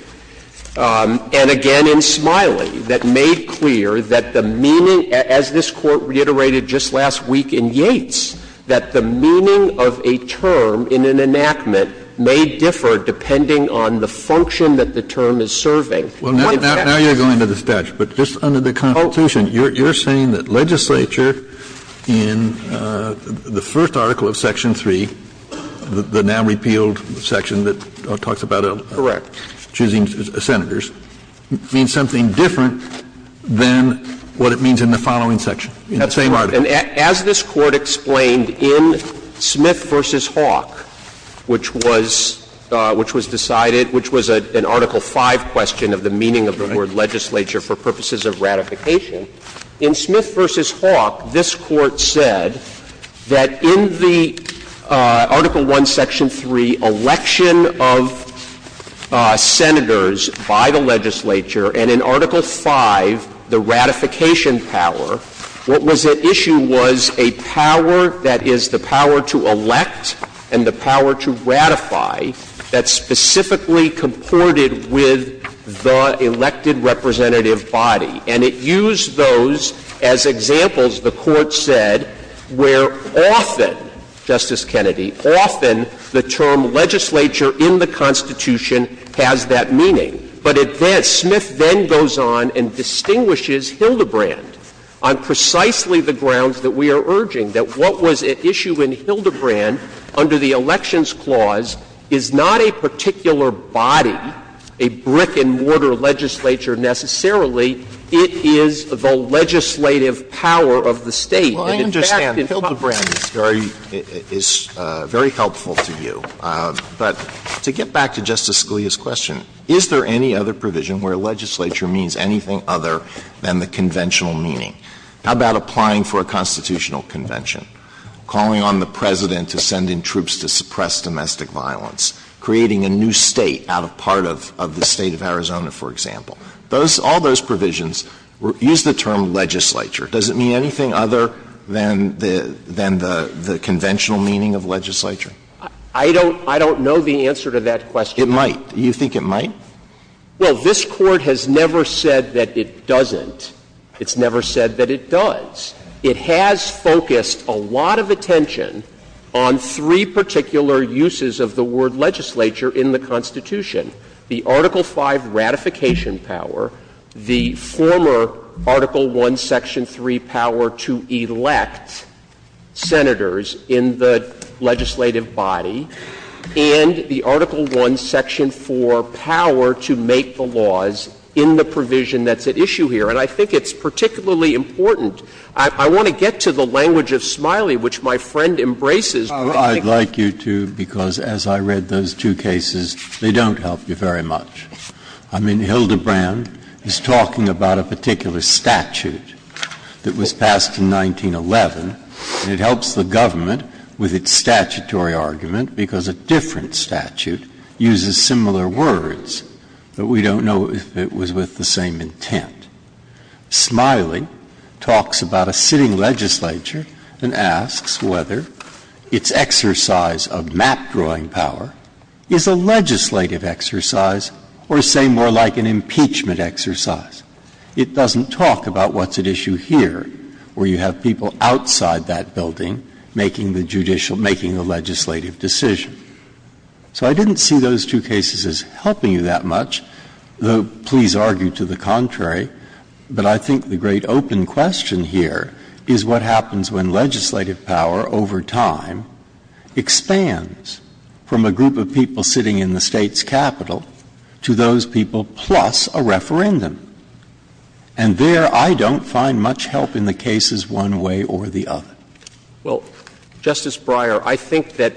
and again in Smiley, that made clear that the meaning, as this Court reiterated just last week in Yates, that the meaning of a term in an enactment may differ depending on the function that the term is serving. Well, now you're going to the statute. But just under the Constitution, you're saying that legislature in the first article of Section 3, the now-repealed section that talks about choosing Senators, means something different than what it means in the following section, in the same article. And as this Court explained in Smith v. Hawk, which was decided, which was an Article 5 question of the meaning of the word legislature for purposes of ratification, in Smith v. Hawk, this Court said that in the Article 1, Section 3 election of Senators by the legislature, and in Article 5, the ratification power, what was at issue with the legislature was a power that is the power to elect and the power to ratify that's specifically comported with the elected representative body. And it used those as examples, the Court said, where often, Justice Kennedy, often the term legislature in the Constitution has that meaning. But it then, Smith then goes on and distinguishes Hildebrand on precisely the ground that we are urging, that what was at issue in Hildebrand under the Elections Clause is not a particular body, a brick-and-mortar legislature necessarily, it is the legislative power of the State. And in fact, in fact, Hildebrand is very helpful to you. But to get back to Justice Scalia's question, is there any other provision where legislature means anything other than the conventional meaning? How about applying for a constitutional convention, calling on the President to send in troops to suppress domestic violence, creating a new State out of part of the State of Arizona, for example? Those, all those provisions use the term legislature. Does it mean anything other than the conventional meaning of legislature? I don't know the answer to that question. It might. Do you think it might? Well, this Court has never said that it doesn't. It's never said that it does. It has focused a lot of attention on three particular uses of the word legislature in the Constitution, the Article V ratification power, the former Article I, Section III power to elect Senators in the legislative body, and the Article I, Section IV power to make the laws in the provision that's at issue here. And I think it's particularly important. I want to get to the language of Smiley, which my friend embraces. Breyer, I'd like you to, because as I read those two cases, they don't help you very much. I mean, Hildebrand is talking about a particular statute that was passed in 1911, and it helps the government with its statutory argument, because a different statute uses similar words, but we don't know if it was with the same intent. Smiley talks about a sitting legislature and asks whether its exercise of map-drawing power is a legislative exercise or, say, more like an impeachment exercise. It doesn't talk about what's at issue here, where you have people outside that building making the judicial — making a legislative decision. So I didn't see those two cases as helping you that much, though please argue to the contrary, but I think the great open question here is what happens when legislative power over time expands from a group of people sitting in the State's capital to those people plus a referendum. And there, I don't find much help in the cases one way or the other. Well, Justice Breyer, I think that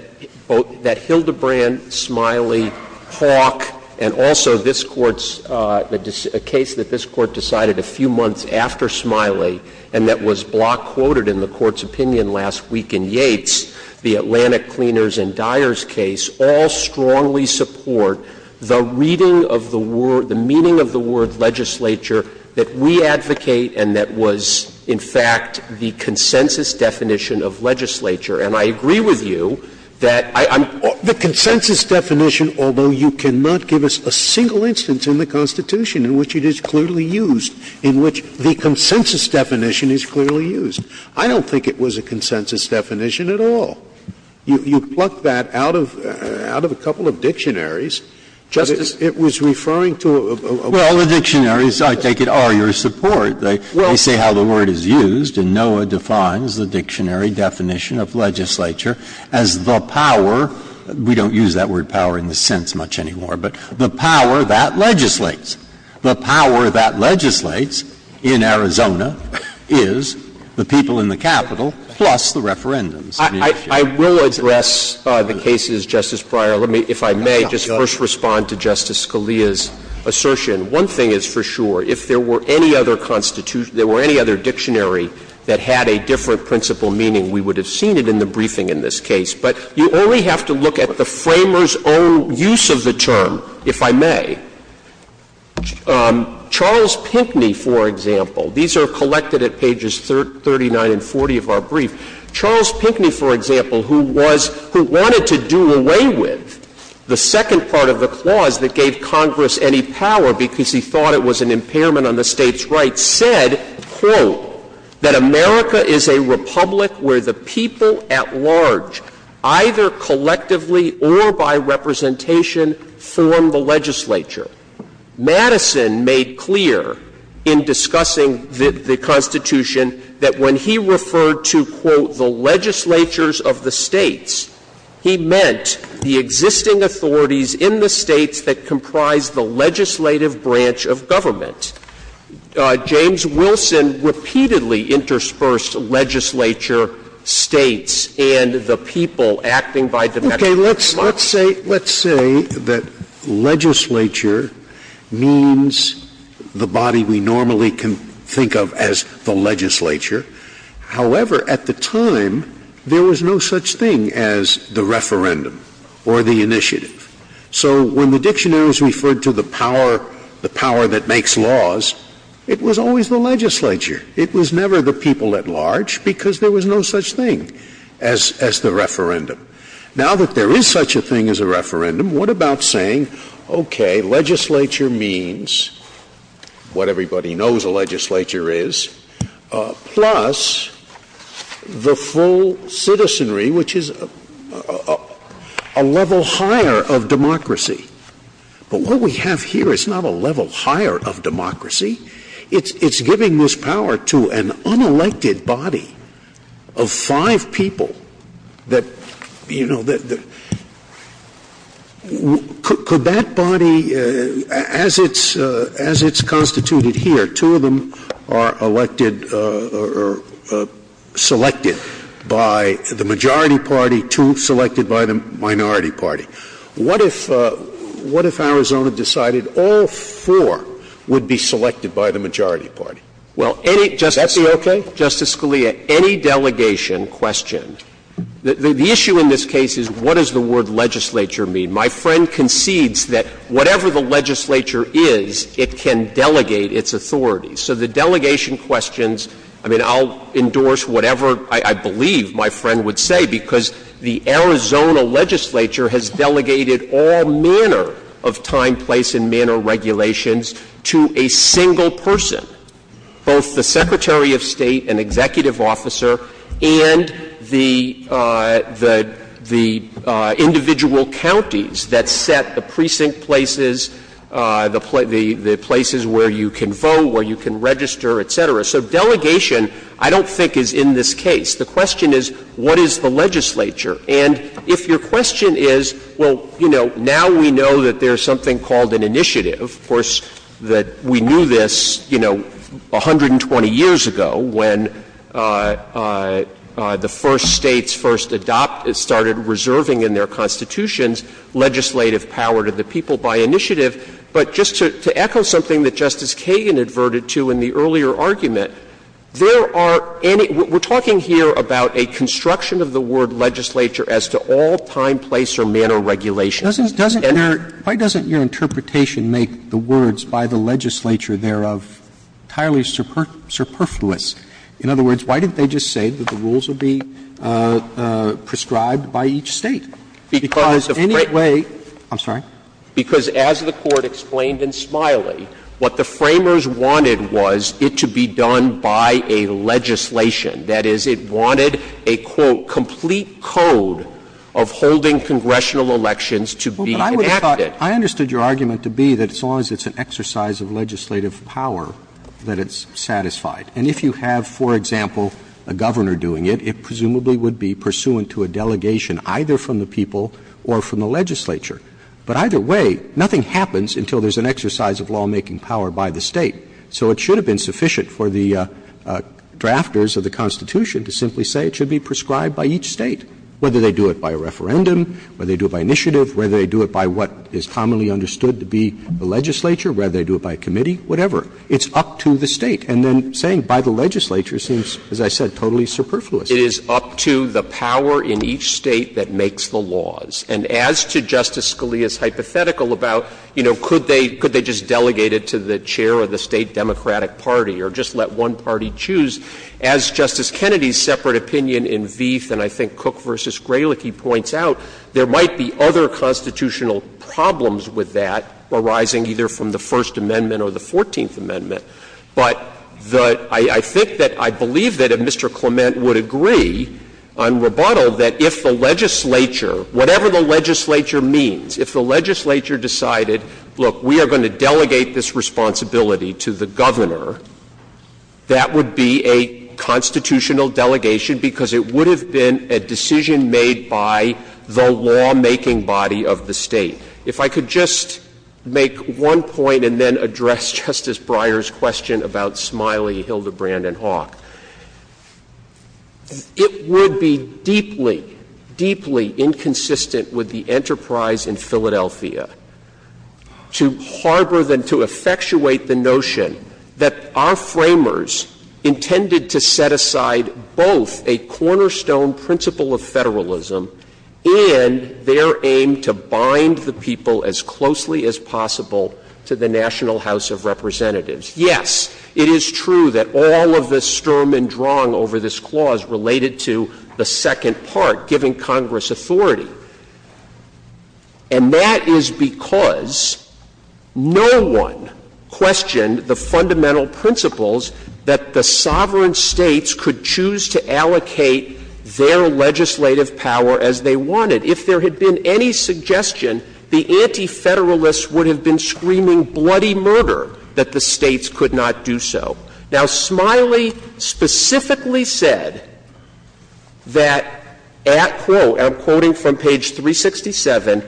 both — that Hildebrand, Smiley, Hawke, and also this Court's — a case that this Court decided a few months after Smiley and that was block-quoted in the Court's opinion last week in Yates, the Atlantic Cleaners and Dyers case, all strongly support the reading of the word — the meaning of the word legislature that we advocate and that was, in fact, the consensus definition of legislature. And I agree with you that I'm — The consensus definition, although you cannot give us a single instance in the Constitution in which it is clearly used, in which the consensus definition is clearly used. I don't think it was a consensus definition at all. You plucked that out of — out of a couple of dictionaries. Justice — It was referring to a — Well, the dictionaries, I take it, are your support. They say how the word is used, and NOAA defines the dictionary definition of legislature as the power — we don't use that word power in the sense much anymore, but the power that legislates. The power that legislates in Arizona is the people in the Capitol plus the referendums. I will address the cases, Justice Breyer. Let me, if I may, just first respond to Justice Scalia's assertion. One thing is for sure. If there were any other Constitution — if there were any other dictionary that had a different principle meaning, we would have seen it in the briefing in this case. But you only have to look at the Framers' own use of the term, if I may. Charles Pinckney, for example — these are collected at pages 39 and 40 of our brief. Charles Pinckney, for example, who was — who wanted to do away with the second part of the clause that gave Congress any power because he thought it was an impairment on the State's rights, said, quote, that America is a republic where the people at large, either collectively or by representation, form the legislature. Madison made clear in discussing the Constitution that when he referred to, quote, the legislatures of the States, he meant the existing authorities in the States that comprise the legislative branch of government. James Wilson repeatedly interspersed legislature, States, and the people acting by dimensional slots. Scalia. Okay. Let's say — let's say that legislature means the body we normally can think of as the legislature. However, at the time, there was no such thing as the referendum or the initiative. So when the dictionaries referred to the power — the power that makes laws, it was always the legislature. It was never the people at large because there was no such thing as — as the referendum. Now that there is such a thing as a referendum, what about saying, okay, legislature means what everybody knows a legislature is, plus the full citizenry, which is a level higher of democracy. But what we have here is not a level higher of democracy. It's — it's giving this power to an unelected body of five people that, you know, that — could be elected by the majority party, two elected by the minority party. So that body, as it's — as it's constituted here, two of them are elected or selected by the majority party, two selected by the minority party. What if — what if Arizona decided all four would be selected by the majority party? Is that okay? Waxman, any delegation question. The issue in this case is what does the word legislature mean? My friend concedes that whatever the legislature is, it can delegate its authority. So the delegation questions — I mean, I'll endorse whatever I believe my friend would say, because the Arizona legislature has delegated all manner of time, place and manner regulations to a single person, both the Secretary of State, an executive officer, and the — the individual counties that set the precinct places, the places where you can vote, where you can register, et cetera. So delegation I don't think is in this case. The question is, what is the legislature? And if your question is, well, you know, now we know that there's something called an initiative. Of course, that we knew this, you know, 120 years ago when the first States first adopted — started reserving in their constitutions legislative power to the people by initiative. But just to echo something that Justice Kagan adverted to in the earlier argument, there are any — we're talking here about a construction of the word legislature as to all time, place or manner regulations. And there are any — Roberts Why doesn't your interpretation make the words by the legislature thereof entirely superfluous? In other words, why didn't they just say that the rules would be prescribed by each State? Because any way — I'm sorry? Because as the Court explained in Smiley, what the Framers wanted was it to be done by a legislation. That is, it wanted a, quote, ''complete code'' of holding congressional elections to be enacted. Roberts But I would have thought — I understood your argument to be that as long as it's an exercise of legislative power, that it's satisfied. And if you have, for example, a governor doing it, it presumably would be pursuant to a delegation either from the people or from the legislature. But either way, nothing happens until there's an exercise of lawmaking power by the State. So it should have been sufficient for the drafters of the Constitution to simply say it should be prescribed by each State, whether they do it by a referendum, whether they do it by initiative, whether they do it by what is commonly understood to be the legislature, whether they do it by committee, whatever. It's up to the State. And then saying by the legislature seems, as I said, totally superfluous. Waxman It is up to the power in each State that makes the laws. And as to Justice Scalia's hypothetical about, you know, could they just delegate it to the chair of the State Democratic Party or just let one party choose, as Justice Kennedy's separate opinion in Vieth and I think Cook v. Grelick, he points out, there might be other constitutional problems with that arising either from the First Amendment or the Fourteenth Amendment. But the — I think that — I believe that if Mr. Clement would agree on rebuttal, that if the legislature, whatever the legislature means, if the legislature decided, look, we are going to delegate this responsibility to the governor, that would be a constitutional delegation because it would have been a decision made by the lawmaking body of the State. If I could just make one point and then address Justice Breyer's question about Smiley, Hildebrand, and Hawk, it would be deeply, deeply inconsistent with the enterprise in Philadelphia to harbor the — to effectuate the notion that our Framers intended to set aside both a cornerstone principle of federalism and their aim to bind the people as closely as possible to the National House of Representatives. Yes, it is true that all of the sturm und drang over this clause related to the second part, giving Congress authority. And that is because no one questioned the fundamental principles that the sovereign States could choose to allocate their legislative power as they wanted. If there had been any suggestion, the anti-Federalists would have been screaming bloody murder that the States could not do so. Now, Smiley specifically said that, at quote, and I'm quoting from page 367,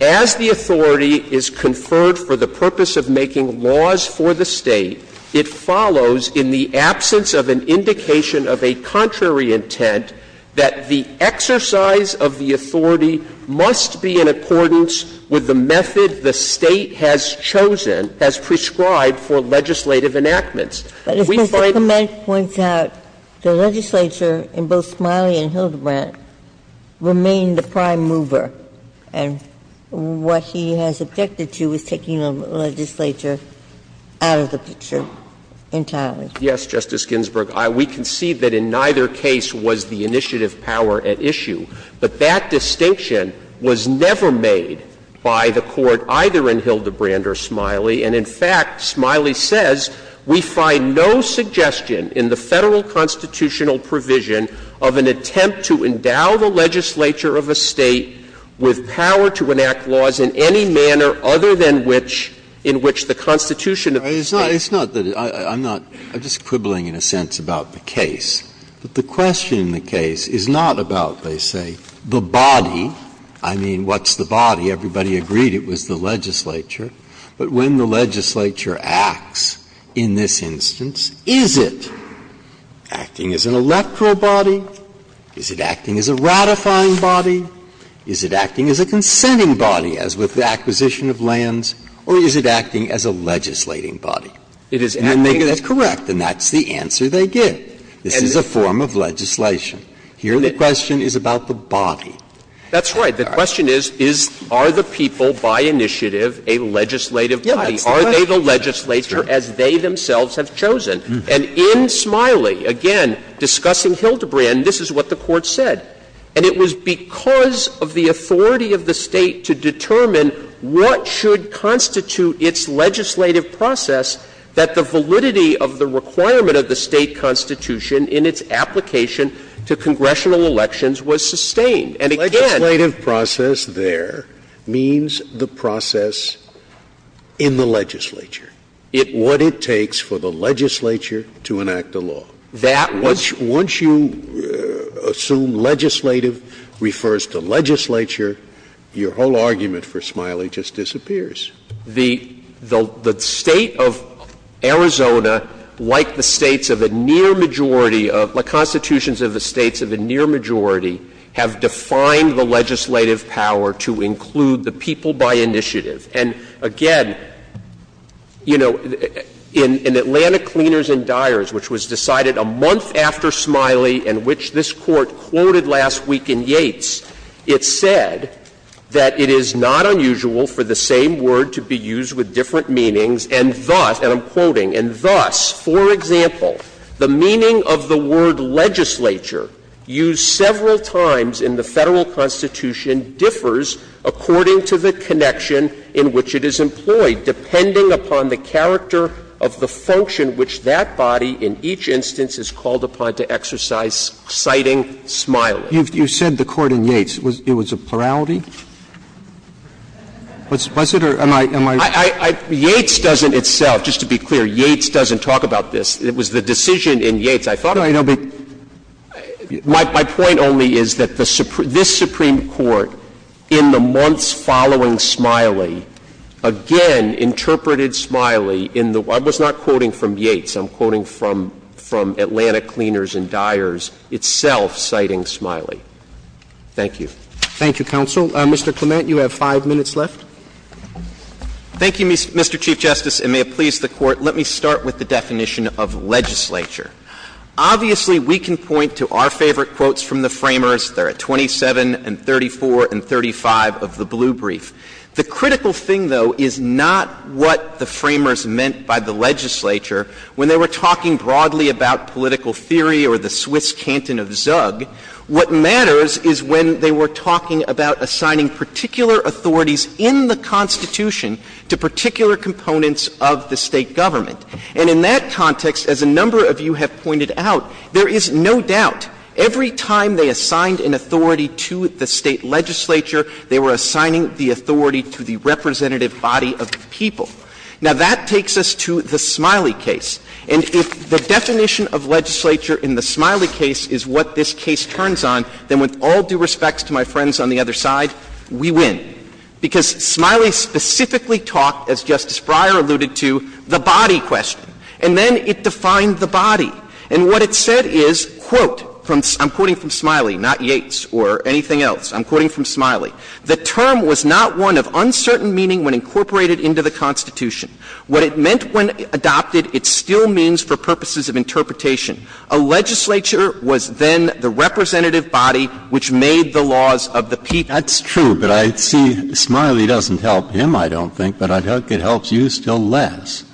as the authority is conferred for the purpose of making laws for the State, it follows in the absence of an indication of a contrary intent that the exercise of the authority must be in accordance with the method the State has chosen, has prescribed for legislative enactments. We find that the legislature in both Smiley and Hildebrandt remain the prime mover. And what he has objected to is taking the legislature out of the picture entirely. Yes, Justice Ginsburg. We concede that in neither case was the initiative power at issue. But that distinction was never made by the Court either in Hildebrandt or Smiley. And in fact, Smiley says, we find no suggestion in the Federal constitutional provision of an attempt to endow the legislature of a State with power to enact laws in any manner other than which in which the Constitution of the State. Breyer, it's not that I'm not — I'm just quibbling in a sense about the case. But the question in the case is not about, they say, the body. I mean, what's the body? Everybody agreed it was the legislature. But when the legislature acts in this instance, is it acting as an electoral body, is it acting as a ratifying body, is it acting as a consenting body, as with the acquisition of lands, or is it acting as a legislating body? And then they get it correct, and that's the answer they get. This is a form of legislation. Here, the question is about the body. That's right. The question is, is — are the people by initiative a legislative body? Are they the legislature as they themselves have chosen? And in Smiley, again, discussing Hildebrandt, this is what the Court said. And it was because of the authority of the State to determine what should constitute its legislative process that the validity of the requirement of the State constitution in its application to congressional elections was sustained. And again — Scalia, legislative process there means the process in the legislature, what it takes for the legislature to enact a law. Once you assume legislative refers to legislature, your whole argument for Smiley just disappears. The State of Arizona, like the States of a near majority of — the constitutions of the States of a near majority, have defined the legislative power to include the people by initiative. And again, you know, in Atlantic Cleaners and Dyers, which was decided a month after Smiley and which this Court quoted last week in Yates, it said that it is not unusual for the same word to be used with different meanings and thus, and I'm quoting, and thus, for example, the meaning of the word legislature used several times in the Federal Constitution differs according to the connection in which it is employed, depending upon the character of the function which that body in each instance is called upon to exercise citing Smiley. But you said the court in Yates, it was a plurality? Was it or am I — am I wrong? Yates doesn't itself, just to be clear, Yates doesn't talk about this. It was the decision in Yates I thought of. My point only is that this Supreme Court, in the months following Smiley, again interpreted Smiley in the — I was not quoting from Yates, I'm quoting from Atlantic Cleaners and Dyers itself citing Smiley. Thank you. Thank you, counsel. Mr. Clement, you have 5 minutes left. Thank you, Mr. Chief Justice, and may it please the Court, let me start with the definition of legislature. Obviously, we can point to our favorite quotes from the Framers. They're at 27 and 34 and 35 of the blue brief. The critical thing, though, is not what the Framers meant by the legislature when they were talking broadly about political theory or the Swiss canton of ZUG. What matters is when they were talking about assigning particular authorities in the Constitution to particular components of the State government. And in that context, as a number of you have pointed out, there is no doubt every time they assigned an authority to the State legislature, they were assigning the authority to the representative body of the people. Now, that takes us to the Smiley case. And if the definition of legislature in the Smiley case is what this case turns on, then with all due respects to my friends on the other side, we win. Because Smiley specifically talked, as Justice Breyer alluded to, the body question. And then it defined the body. And what it said is, quote, I'm quoting from Smiley, not Yates or anything else. I'm quoting from Smiley. The term was not one of uncertain meaning when incorporated into the Constitution. What it meant when adopted, it still means for purposes of interpretation. A legislature was then the representative body which made the laws of the people. Breyer. That's true, but I see Smiley doesn't help him, I don't think, but I think it helps you still less,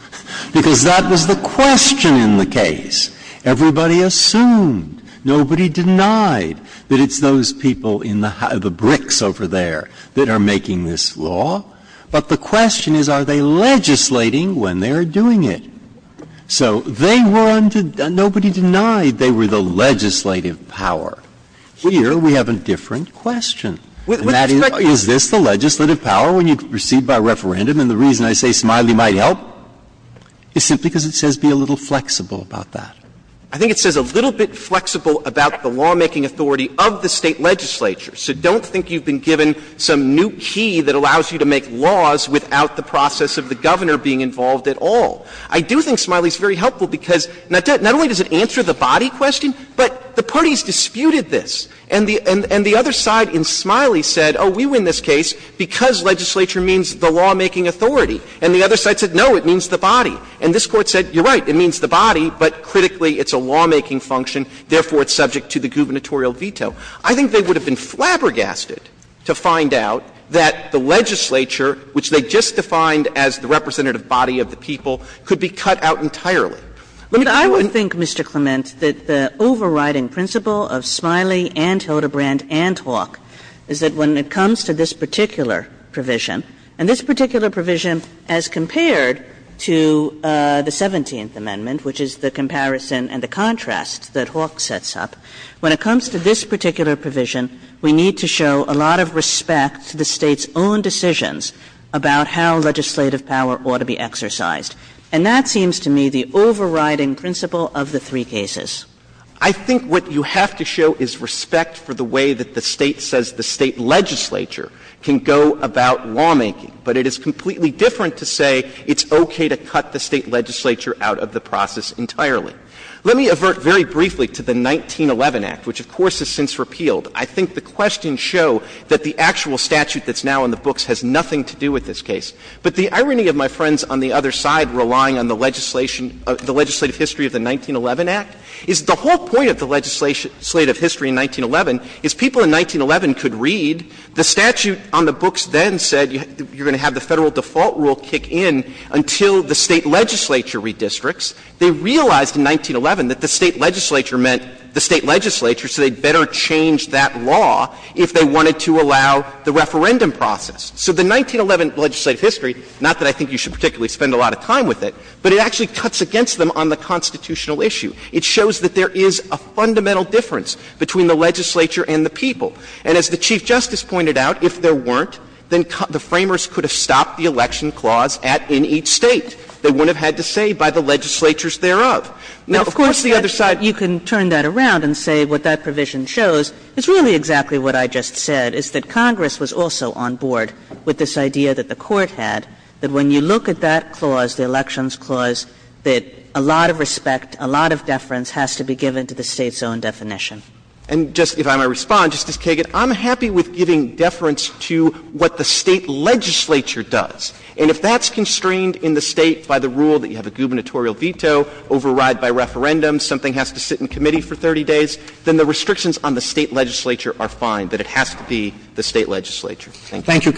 because that was the question in the case. Everybody assumed, nobody denied that it's those people in the bricks over there that are making this law, but the question is, are they legislating when they are doing it? So they were undeniable, nobody denied they were the legislative power. Here we have a different question. And that is, is this the legislative power when you proceed by referendum? And the reason I say Smiley might help is simply because it says be a little flexible about that. I think it says a little bit flexible about the lawmaking authority of the State legislature. So don't think you've been given some new key that allows you to make laws without the process of the governor being involved at all. I do think Smiley's very helpful because not only does it answer the body question, but the parties disputed this. And the other side in Smiley said, oh, we win this case because legislature means the lawmaking authority. And the other side said, no, it means the body. And this Court said, you're right, it means the body, but critically it's a lawmaking function, therefore it's subject to the gubernatorial veto. I think they would have been flabbergasted to find out that the legislature, which they just defined as the representative body of the people, could be cut out entirely. Let me tell you what I think, Mr. Clement, that the overriding principle of Smiley and Hildebrandt and Hawke is that when it comes to this particular provision, and this particular provision as compared to the 17th Amendment, which is the comparison and the contrast that Hawke sets up, when it comes to this particular provision, we need to show a lot of respect to the State's own decisions about how legislative power ought to be exercised. And that seems to me the overriding principle of the three cases. Clement, I think what you have to show is respect for the way that the State says the State legislature can go about lawmaking, but it is completely different to say it's okay to cut the State legislature out of the process entirely. Let me avert very briefly to the 1911 Act, which, of course, has since repealed. I think the questions show that the actual statute that's now in the books has nothing to do with this case. But the irony of my friends on the other side relying on the legislation of the legislative history of the 1911 Act is the whole point of the legislative history in 1911 is people in 1911 could read the statute on the books then said you're going to have the Federal default rule kick in until the State legislature redistricts. They realized in 1911 that the State legislature meant the State legislature, so they better change that law if they wanted to allow the referendum process. So the 1911 legislative history, not that I think you should particularly spend a lot of time with it, but it actually cuts against them on the constitutional issue. It shows that there is a fundamental difference between the legislature and the people. And as the Chief Justice pointed out, if there weren't, then the Framers could have stopped the election clause at in each State. They wouldn't have had to say by the legislatures thereof. Now, of course, the other side of the line is that you can turn that around and say what that provision shows is really exactly what I just said, is that Congress was also on board with this idea that the Court had, that when you look at that clause, the elections clause, that a lot of respect, a lot of deference has to be given to the State's own definition. And just if I may respond, Justice Kagan, I'm happy with giving deference to what the State legislature does. And if that's constrained in the State by the rule that you have a gubernatorial veto, override by referendum, something has to sit in committee for 30 days, then the restrictions on the State legislature are fine, that it has to be the State legislature. Thank you. Roberts.